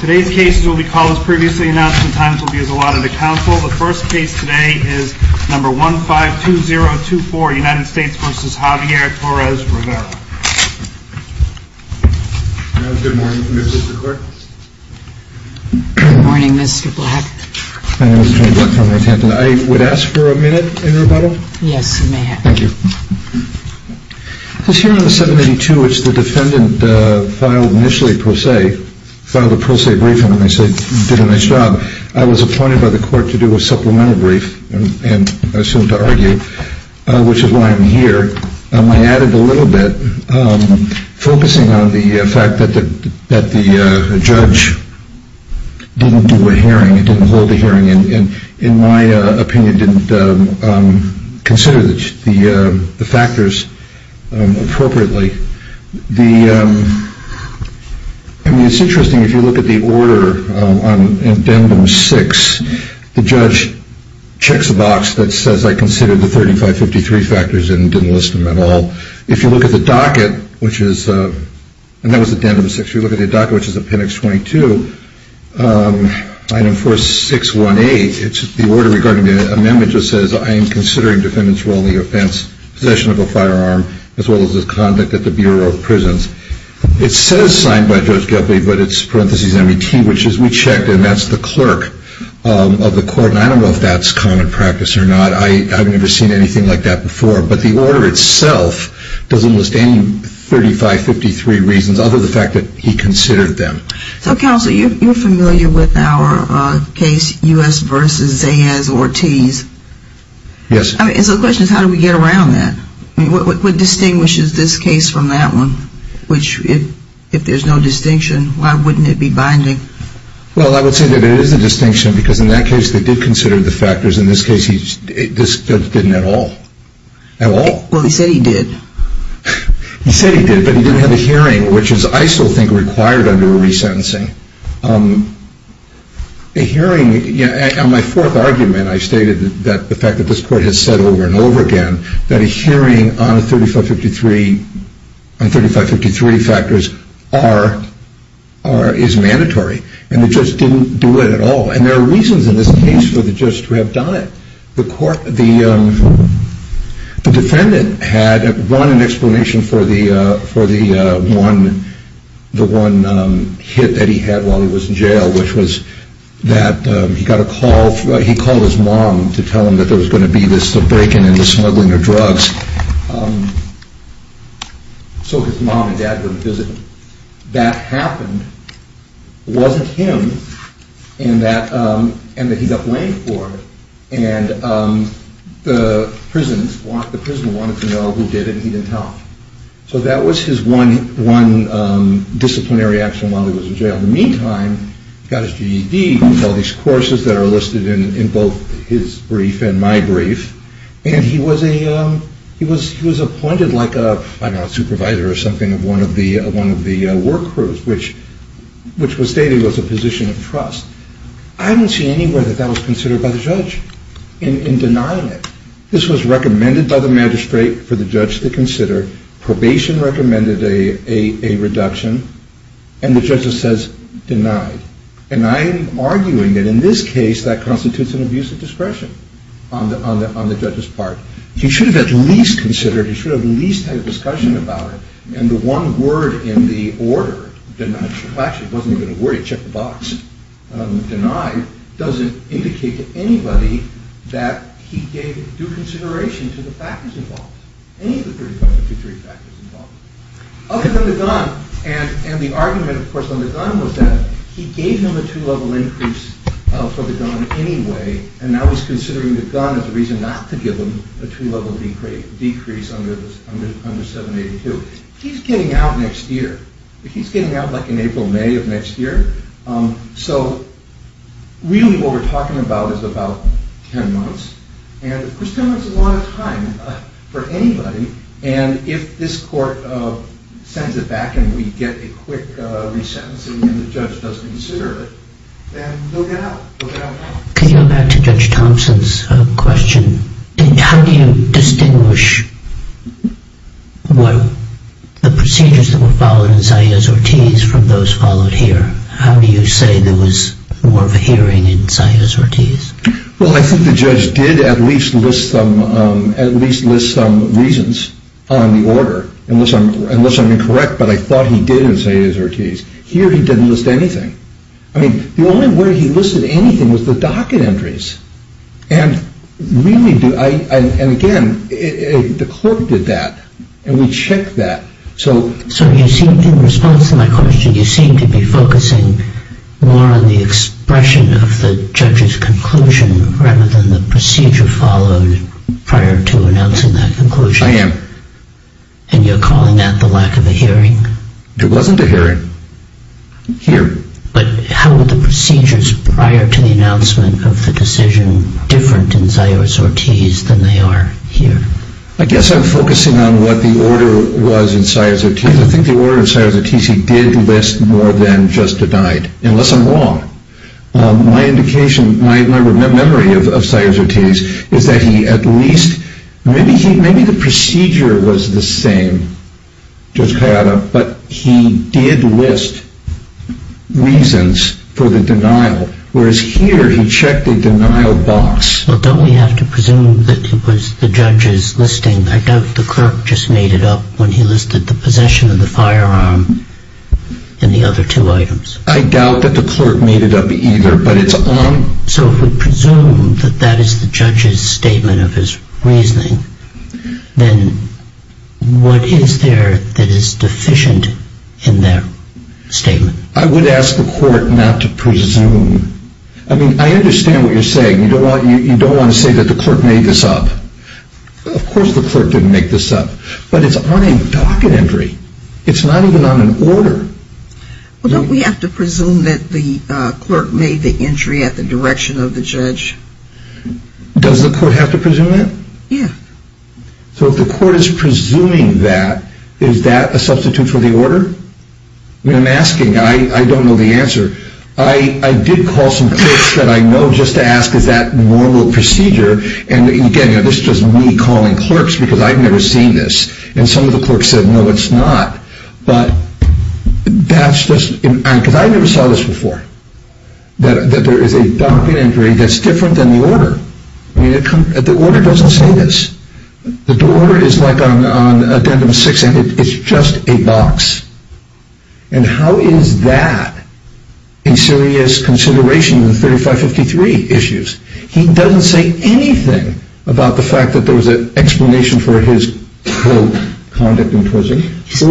Good morning, Mr. Black. I would ask for a minute in rebuttal? Yes, you may have. Thank you. This hearing of 782, which the defendant filed initially pro se, filed a pro se briefing and I said, did a nice job. I was appointed by the court to do a supplemental brief and I assumed to argue, which is why I'm here. I added a little bit, focusing on the fact that the judge didn't do a hearing, didn't hold a hearing, and in my opinion, didn't consider the factors appropriately. It's interesting, if you look at the order in Addendum 6, the judge checks a box that says I considered the 3553 factors and didn't list them at all. If you look at the docket, which is, and that was Addendum 6, if you look at the docket, which is Appendix 22, Item 4618, it's the order regarding the amendment that says I am considering the defendant's role in the offense, possession of a firearm, as well as his conduct at the Bureau of Prisons. It says signed by Judge Goethe, but it's parentheses MET, which is we checked and that's the clerk of the court, and I don't know if that's common practice or not. I've never seen anything like that before. But the order itself doesn't list any 3553 reasons, other than the fact that he considered them. So Counselor, you're familiar with our case, U.S. v. Zayas-Ortiz? Yes. And so the question is, how do we get around that? What distinguishes this case from that one? Which, if there's no distinction, why wouldn't it be binding? Well, I would say that there is a distinction, because in that case, they did consider the factors. In this case, this didn't at all. At all. Well, he said he did. He said he did, but he didn't have a hearing, which is, I still think, required under a resentencing. A hearing, in my fourth argument, I stated that the fact that this court has said over and over again that a hearing on 3553 factors is mandatory, and the judge didn't do it at all. And there are reasons in this case for the judge to have done it. The defendant had run an explanation for the one hit that he had while he was in jail, which was that he called his mom to tell him that there was going to be this breaking and smuggling of drugs. So his mom and dad went to visit him. That happened wasn't him, and that he got blamed for it. And the prison wanted to know who did it, and he didn't tell them. So that was his one disciplinary action while he was in jail. In the meantime, he got his GED. He has all these courses that are listed in both his brief and my brief. And he was appointed like a supervisor or something of one of the work crews, which was stated was a position of trust. I haven't seen anywhere that that was considered by the judge in denying it. This was recommended by the magistrate for the judge to consider. Probation recommended a reduction, and the judge just says, denied. And I am arguing that in this case that constitutes an abuse of discretion on the judge's part. He should have at least considered, he should have at least had a discussion about it. And the one word in the order, denied, well actually it wasn't even a word, he checked the box. Denied doesn't indicate to anybody that he gave due consideration to the factors involved, any of the 33 factors involved. Other than the gun. And the argument of course on the gun was that he gave him a two-level increase for the gun anyway, and now he's considering the gun as a reason not to give him a two-level decrease under 782. He's getting out next year. He's getting out like in April, May of next year. So really what we're talking about is about 10 months. And of course 10 months is a lot of time for anybody. And if this court sends it back and we get a quick resentencing and the judge does consider it, then they'll get out. Can you go back to Judge Thompson's question? How do you distinguish the procedures that were followed in Zayas v. Ortiz from those followed here? How do you say there was more of a hearing in Zayas v. Ortiz? Well, I think the judge did at least list some reasons on the order, unless I'm incorrect, but I thought he did in Zayas v. Ortiz. Here he didn't list anything. I mean, the only way he listed anything was the docket entries. And again, the court did that, and we checked that. So in response to my question, you seem to be focusing more on the expression of the judge's conclusion rather than the procedure followed prior to announcing that conclusion. I am. And you're calling that the lack of a hearing? There wasn't a hearing here. But how were the procedures prior to the announcement of the decision different in Zayas v. Ortiz than they are here? I guess I'm focusing on what the order was in Zayas v. Ortiz. I think the order in Zayas v. Ortiz he did list more than just denied, unless I'm wrong. My memory of Zayas v. Ortiz is that he at least, maybe the procedure was the same, Judge Kayada, but he did list reasons for the denial, whereas here he checked the denial box. Well, don't we have to presume that it was the judge's listing? I doubt the clerk just made it up when he listed the possession of the firearm and the other two items. I doubt that the clerk made it up either, but it's on... So if we presume that that is the judge's statement of his reasoning, then what is there that is deficient in that statement? I would ask the court not to presume. I mean, I understand what you're saying. You don't want to say that the clerk made this up. Of course the clerk didn't make this up, but it's on a docket entry. It's not even on an order. Well, don't we have to presume that the clerk made the entry at the direction of the judge? Does the court have to presume that? Yeah. So if the court is presuming that, is that a substitute for the order? I mean, I'm asking. I don't know the answer. I did call some clerks that I know just to ask, is that normal procedure? And, again, this is just me calling clerks because I've never seen this. And some of the clerks said, no, it's not. But that's just... Because I never saw this before, that there is a docket entry that's different than the order. I mean, the order doesn't say this. The order is like on addendum 6, and it's just a box. And how is that a serious consideration of the 3553 issues? He doesn't say anything about the fact that there was an explanation for his, quote, conduct in prison,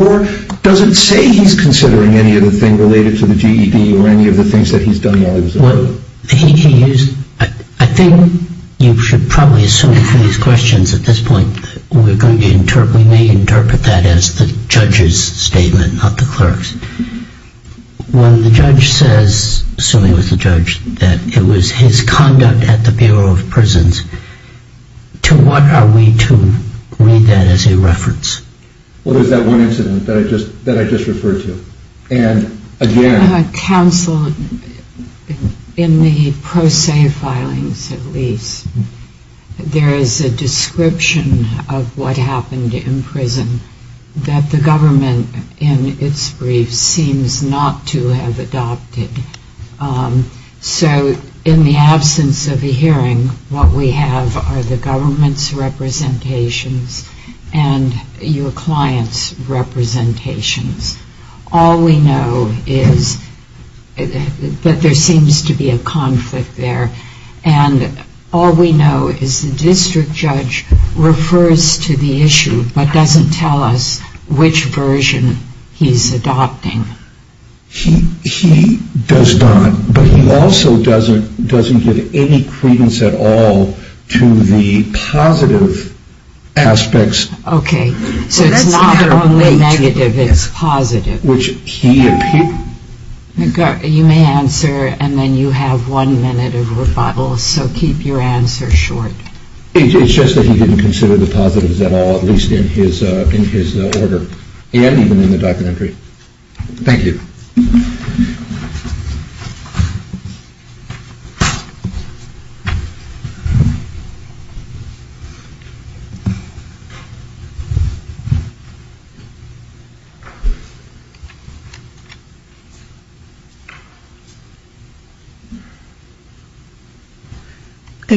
or doesn't say he's considering any of the things related to the GED or any of the things that he's done while he was in prison. Well, he used... I think you should probably assume from these questions at this point we may interpret that as the judge's statement, not the clerk's. When the judge says, assuming it was the judge, that it was his conduct at the Bureau of Prisons, to what are we to read that as a reference? Well, there's that one incident that I just referred to. And, again... There is a description of what happened in prison that the government in its briefs seems not to have adopted. So in the absence of a hearing, what we have are the government's representations and your client's representations. All we know is that there seems to be a conflict there. And all we know is the district judge refers to the issue but doesn't tell us which version he's adopting. He does not. But he also doesn't give any credence at all to the positive aspects. Okay. So it's not only negative, it's positive. Which he... You may answer and then you have one minute of rebuttal. So keep your answer short. It's just that he didn't consider the positives at all, at least in his order. And even in the documentary. Thank you. Good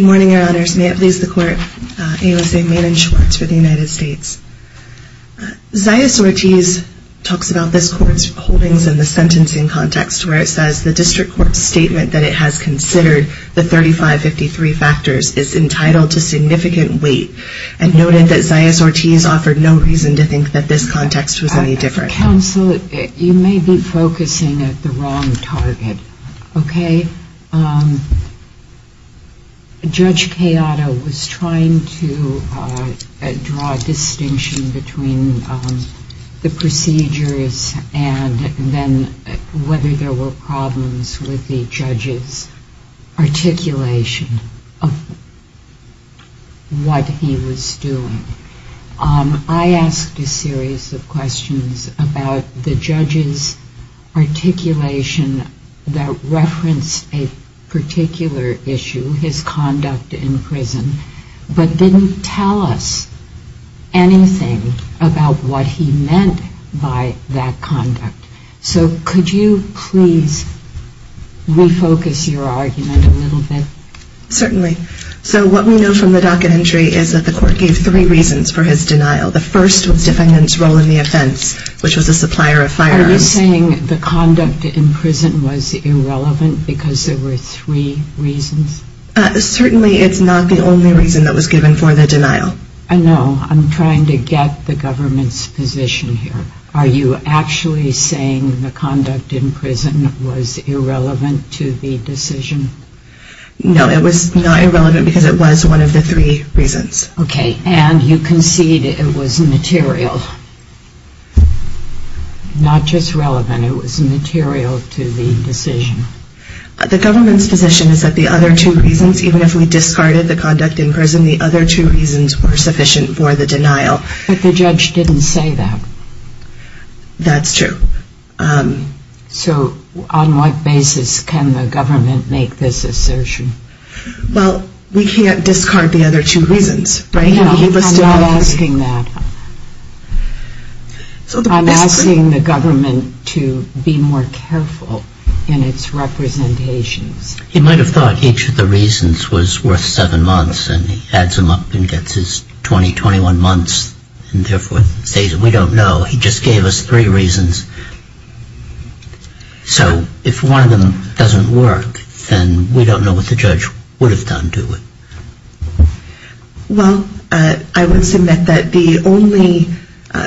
morning, Your Honors. May it please the Court. AOSA Maiden Schwartz for the United States. Zaius Ortiz talks about this Court's holdings in the sentencing context where it says the district court's statement that it has considered the 3553 factors is entitled to significant weight and noted that Zaius Ortiz offered no reason to think that this context was any different. Counsel, you may be focusing at the wrong time. At the wrong target. Okay. Judge Kayada was trying to draw a distinction between the procedures and then whether there were problems with the judge's articulation of what he was doing. I asked a series of questions about the judge's articulation that referenced a particular issue, his conduct in prison, but didn't tell us anything about what he meant by that conduct. So could you please refocus your argument a little bit? Certainly. So what we know from the docket entry is that the Court gave three reasons for his denial. The first was defendant's role in the offense, which was a supplier of firearms. Are you saying the conduct in prison was irrelevant because there were three reasons? Certainly it's not the only reason that was given for the denial. No, I'm trying to get the government's position here. Are you actually saying the conduct in prison was irrelevant to the decision? No, it was not irrelevant because it was one of the three reasons. Okay, and you concede it was material. Not just relevant, it was material to the decision. The government's position is that the other two reasons, even if we discarded the conduct in prison, the other two reasons were sufficient for the denial. But the judge didn't say that. That's true. So on what basis can the government make this assertion? Well, we can't discard the other two reasons, right? No, I'm not asking that. I'm asking the government to be more careful in its representations. He might have thought each of the reasons was worth seven months, and he adds them up and gets his 20, 21 months, and therefore says we don't know. He just gave us three reasons. So if one of them doesn't work, then we don't know what the judge would have done, do we? Well, I would submit that the only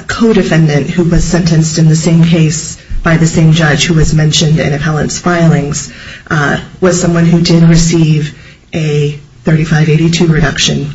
co-defendant who was sentenced in the same case by the same judge who was mentioned in Appellant's filings was someone who did receive a 3582 reduction,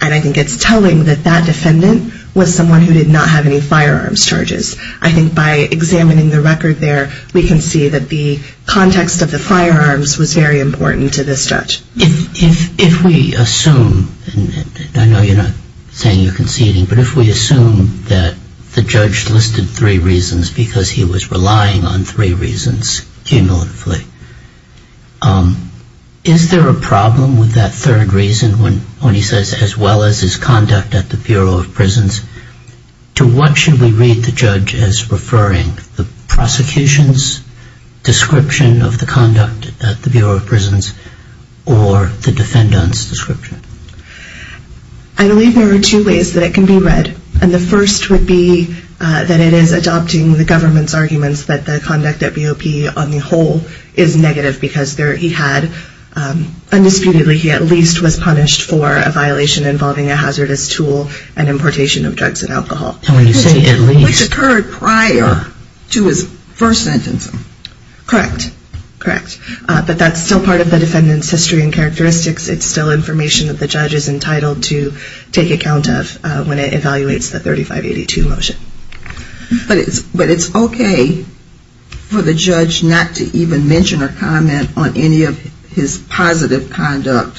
and I think it's telling that that defendant was someone who did not have any firearms charges. I think by examining the record there, we can see that the context of the firearms was very important to this judge. If we assume, and I know you're not saying you're conceding, but if we assume that the judge listed three reasons because he was relying on three reasons cumulatively, is there a problem with that third reason when he says, as well as his conduct at the Bureau of Prisons, to what should we read the judge as referring? The prosecution's description of the conduct at the Bureau of Prisons or the defendant's description? I believe there are two ways that it can be read, and the first would be that it is adopting the government's arguments that the conduct at BOP on the whole is negative because he had, undisputedly, he at least was punished for a violation involving a hazardous tool and importation of drugs and alcohol. And when you say at least? Which occurred prior to his first sentencing. Correct. Correct. But that's still part of the defendant's history and characteristics. It's still information that the judge is entitled to take account of when it evaluates the 3582 motion. But it's okay for the judge not to even mention or comment on any of his positive conduct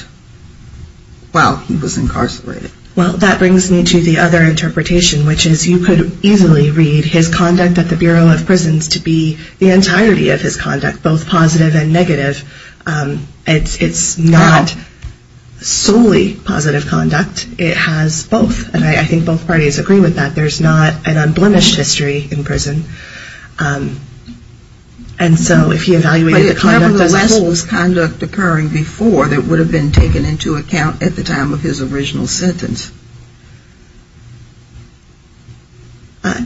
while he was incarcerated. Well, that brings me to the other interpretation, which is you could easily read his conduct at the Bureau of Prisons to be the entirety of his conduct, both positive and negative. It's not solely positive conduct. It has both, and I think both parties agree with that. There's not an unblemished history in prison. And so if he evaluated the conduct as a whole. But it was conduct occurring before that would have been taken into account at the time of his original sentence.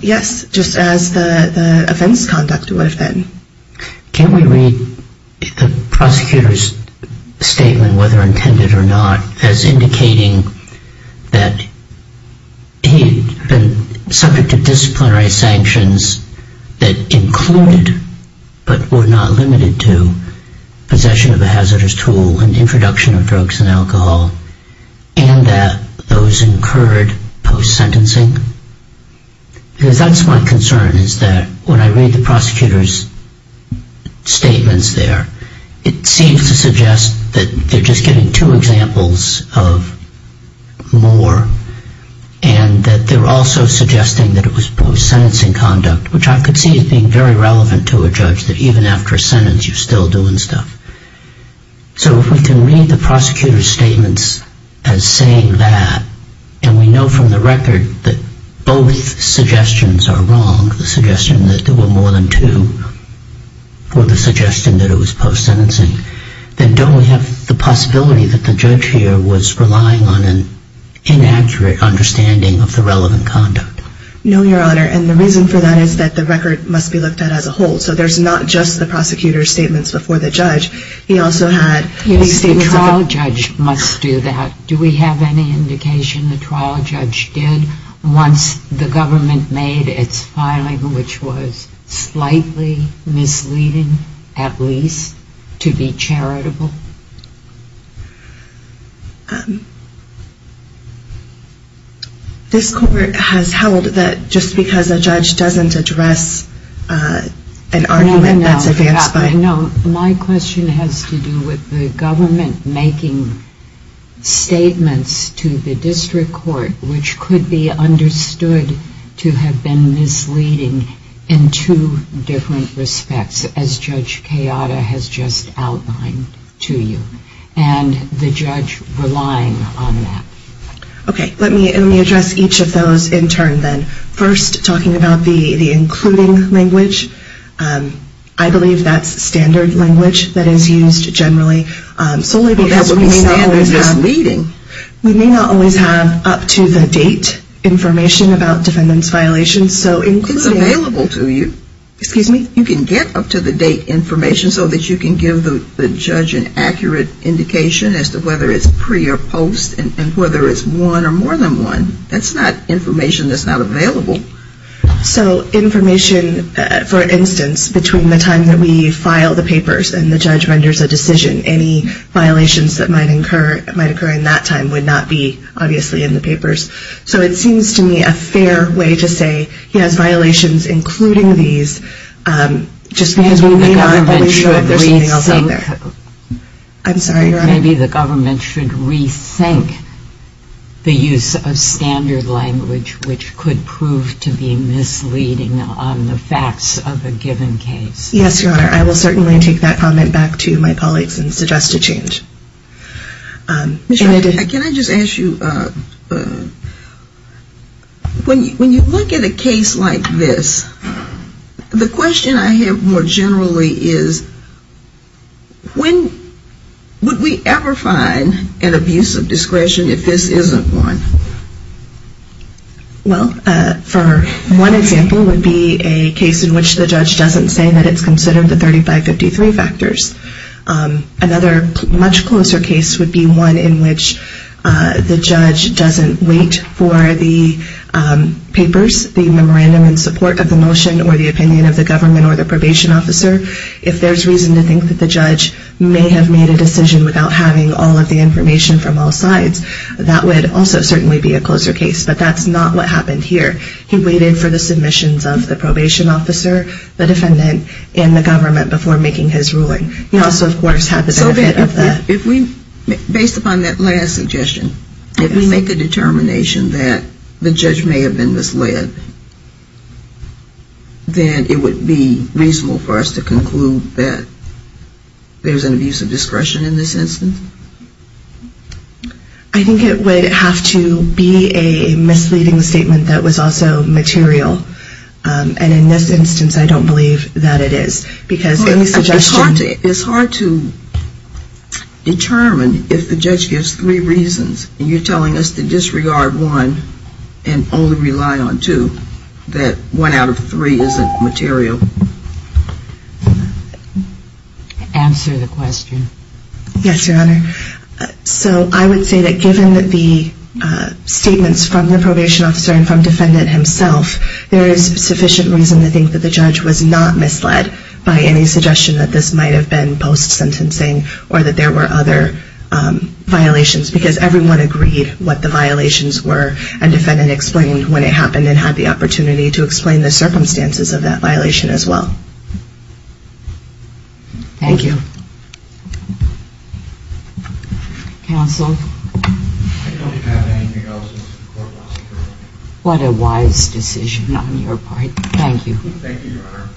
Yes, just as the offense conduct would have been. Can we read the prosecutor's statement, whether intended or not, as indicating that he had been subject to disciplinary sanctions that included, but were not limited to, possession of a hazardous tool and introduction of drugs and alcohol, and that those incurred post-sentencing? Because that's my concern, is that when I read the prosecutor's statements there, it seems to suggest that they're just giving two examples of more, and that they're also suggesting that it was post-sentencing conduct, which I could see as being very relevant to a judge, that even after a sentence you're still doing stuff. So if we can read the prosecutor's statements as saying that, and we know from the record that both suggestions are wrong, the suggestion that there were more than two for the suggestion that it was post-sentencing, then don't we have the possibility that the judge here was relying on an inaccurate understanding of the relevant conduct? No, Your Honor, and the reason for that is that the record must be looked at as a whole. So there's not just the prosecutor's statements before the judge. The trial judge must do that. Do we have any indication the trial judge did, once the government made its filing, which was slightly misleading, at least, to be charitable? This Court has held that just because a judge doesn't address an argument that's advanced by... Your Honor, no, my question has to do with the government making statements to the district court, which could be understood to have been misleading in two different respects, as Judge Kayada has just outlined to you, and the judge relying on that. Okay, let me address each of those in turn then. First, talking about the including language, I believe that's standard language that is used generally, solely because we may not always have up-to-the-date information about defendants' violations. It's available to you. Excuse me? You can get up-to-the-date information so that you can give the judge an accurate indication as to whether it's pre or post and whether it's one or more than one. That's not information that's not available. So information, for instance, between the time that we file the papers and the judge renders a decision, any violations that might occur in that time would not be, obviously, in the papers. So it seems to me a fair way to say he has violations including these, just because we may not always know if there's something else out there. I'm sorry, Your Honor? Maybe the government should rethink the use of standard language, which could prove to be misleading on the facts of a given case. Yes, Your Honor. I will certainly take that comment back to my colleagues and suggest a change. Can I just ask you, when you look at a case like this, the question I have more generally is, when would we ever find an abuse of discretion if this isn't one? Well, for one example would be a case in which the judge doesn't say that it's considered the 3553 factors. Another much closer case would be one in which the judge doesn't wait for the papers, the memorandum in support of the motion or the opinion of the government or the probation officer. If there's reason to think that the judge may have made a decision without having all of the information from all sides, that would also certainly be a closer case. But that's not what happened here. He waited for the submissions of the probation officer, the defendant, and the government before making his ruling. He also, of course, had the benefit of that. Based upon that last suggestion, if we make a determination that the judge may have been misled, then it would be reasonable for us to conclude that there's an abuse of discretion in this instance? I think it would have to be a misleading statement that was also material. And in this instance, I don't believe that it is. It's hard to determine if the judge gives three reasons and you're telling us to disregard one and only rely on two, that one out of three isn't material. Answer the question. Yes, Your Honor. So I would say that given the statements from the probation officer and from the defendant himself, there is sufficient reason to think that the judge was not misled by any suggestion that this might have been post-sentencing or that there were other violations, because everyone agreed what the violations were and the defendant explained when it happened and had the opportunity to explain the circumstances of that violation as well. Thank you. Counsel? I don't have anything else. What a wise decision on your part. Thank you. Thank you, Your Honor.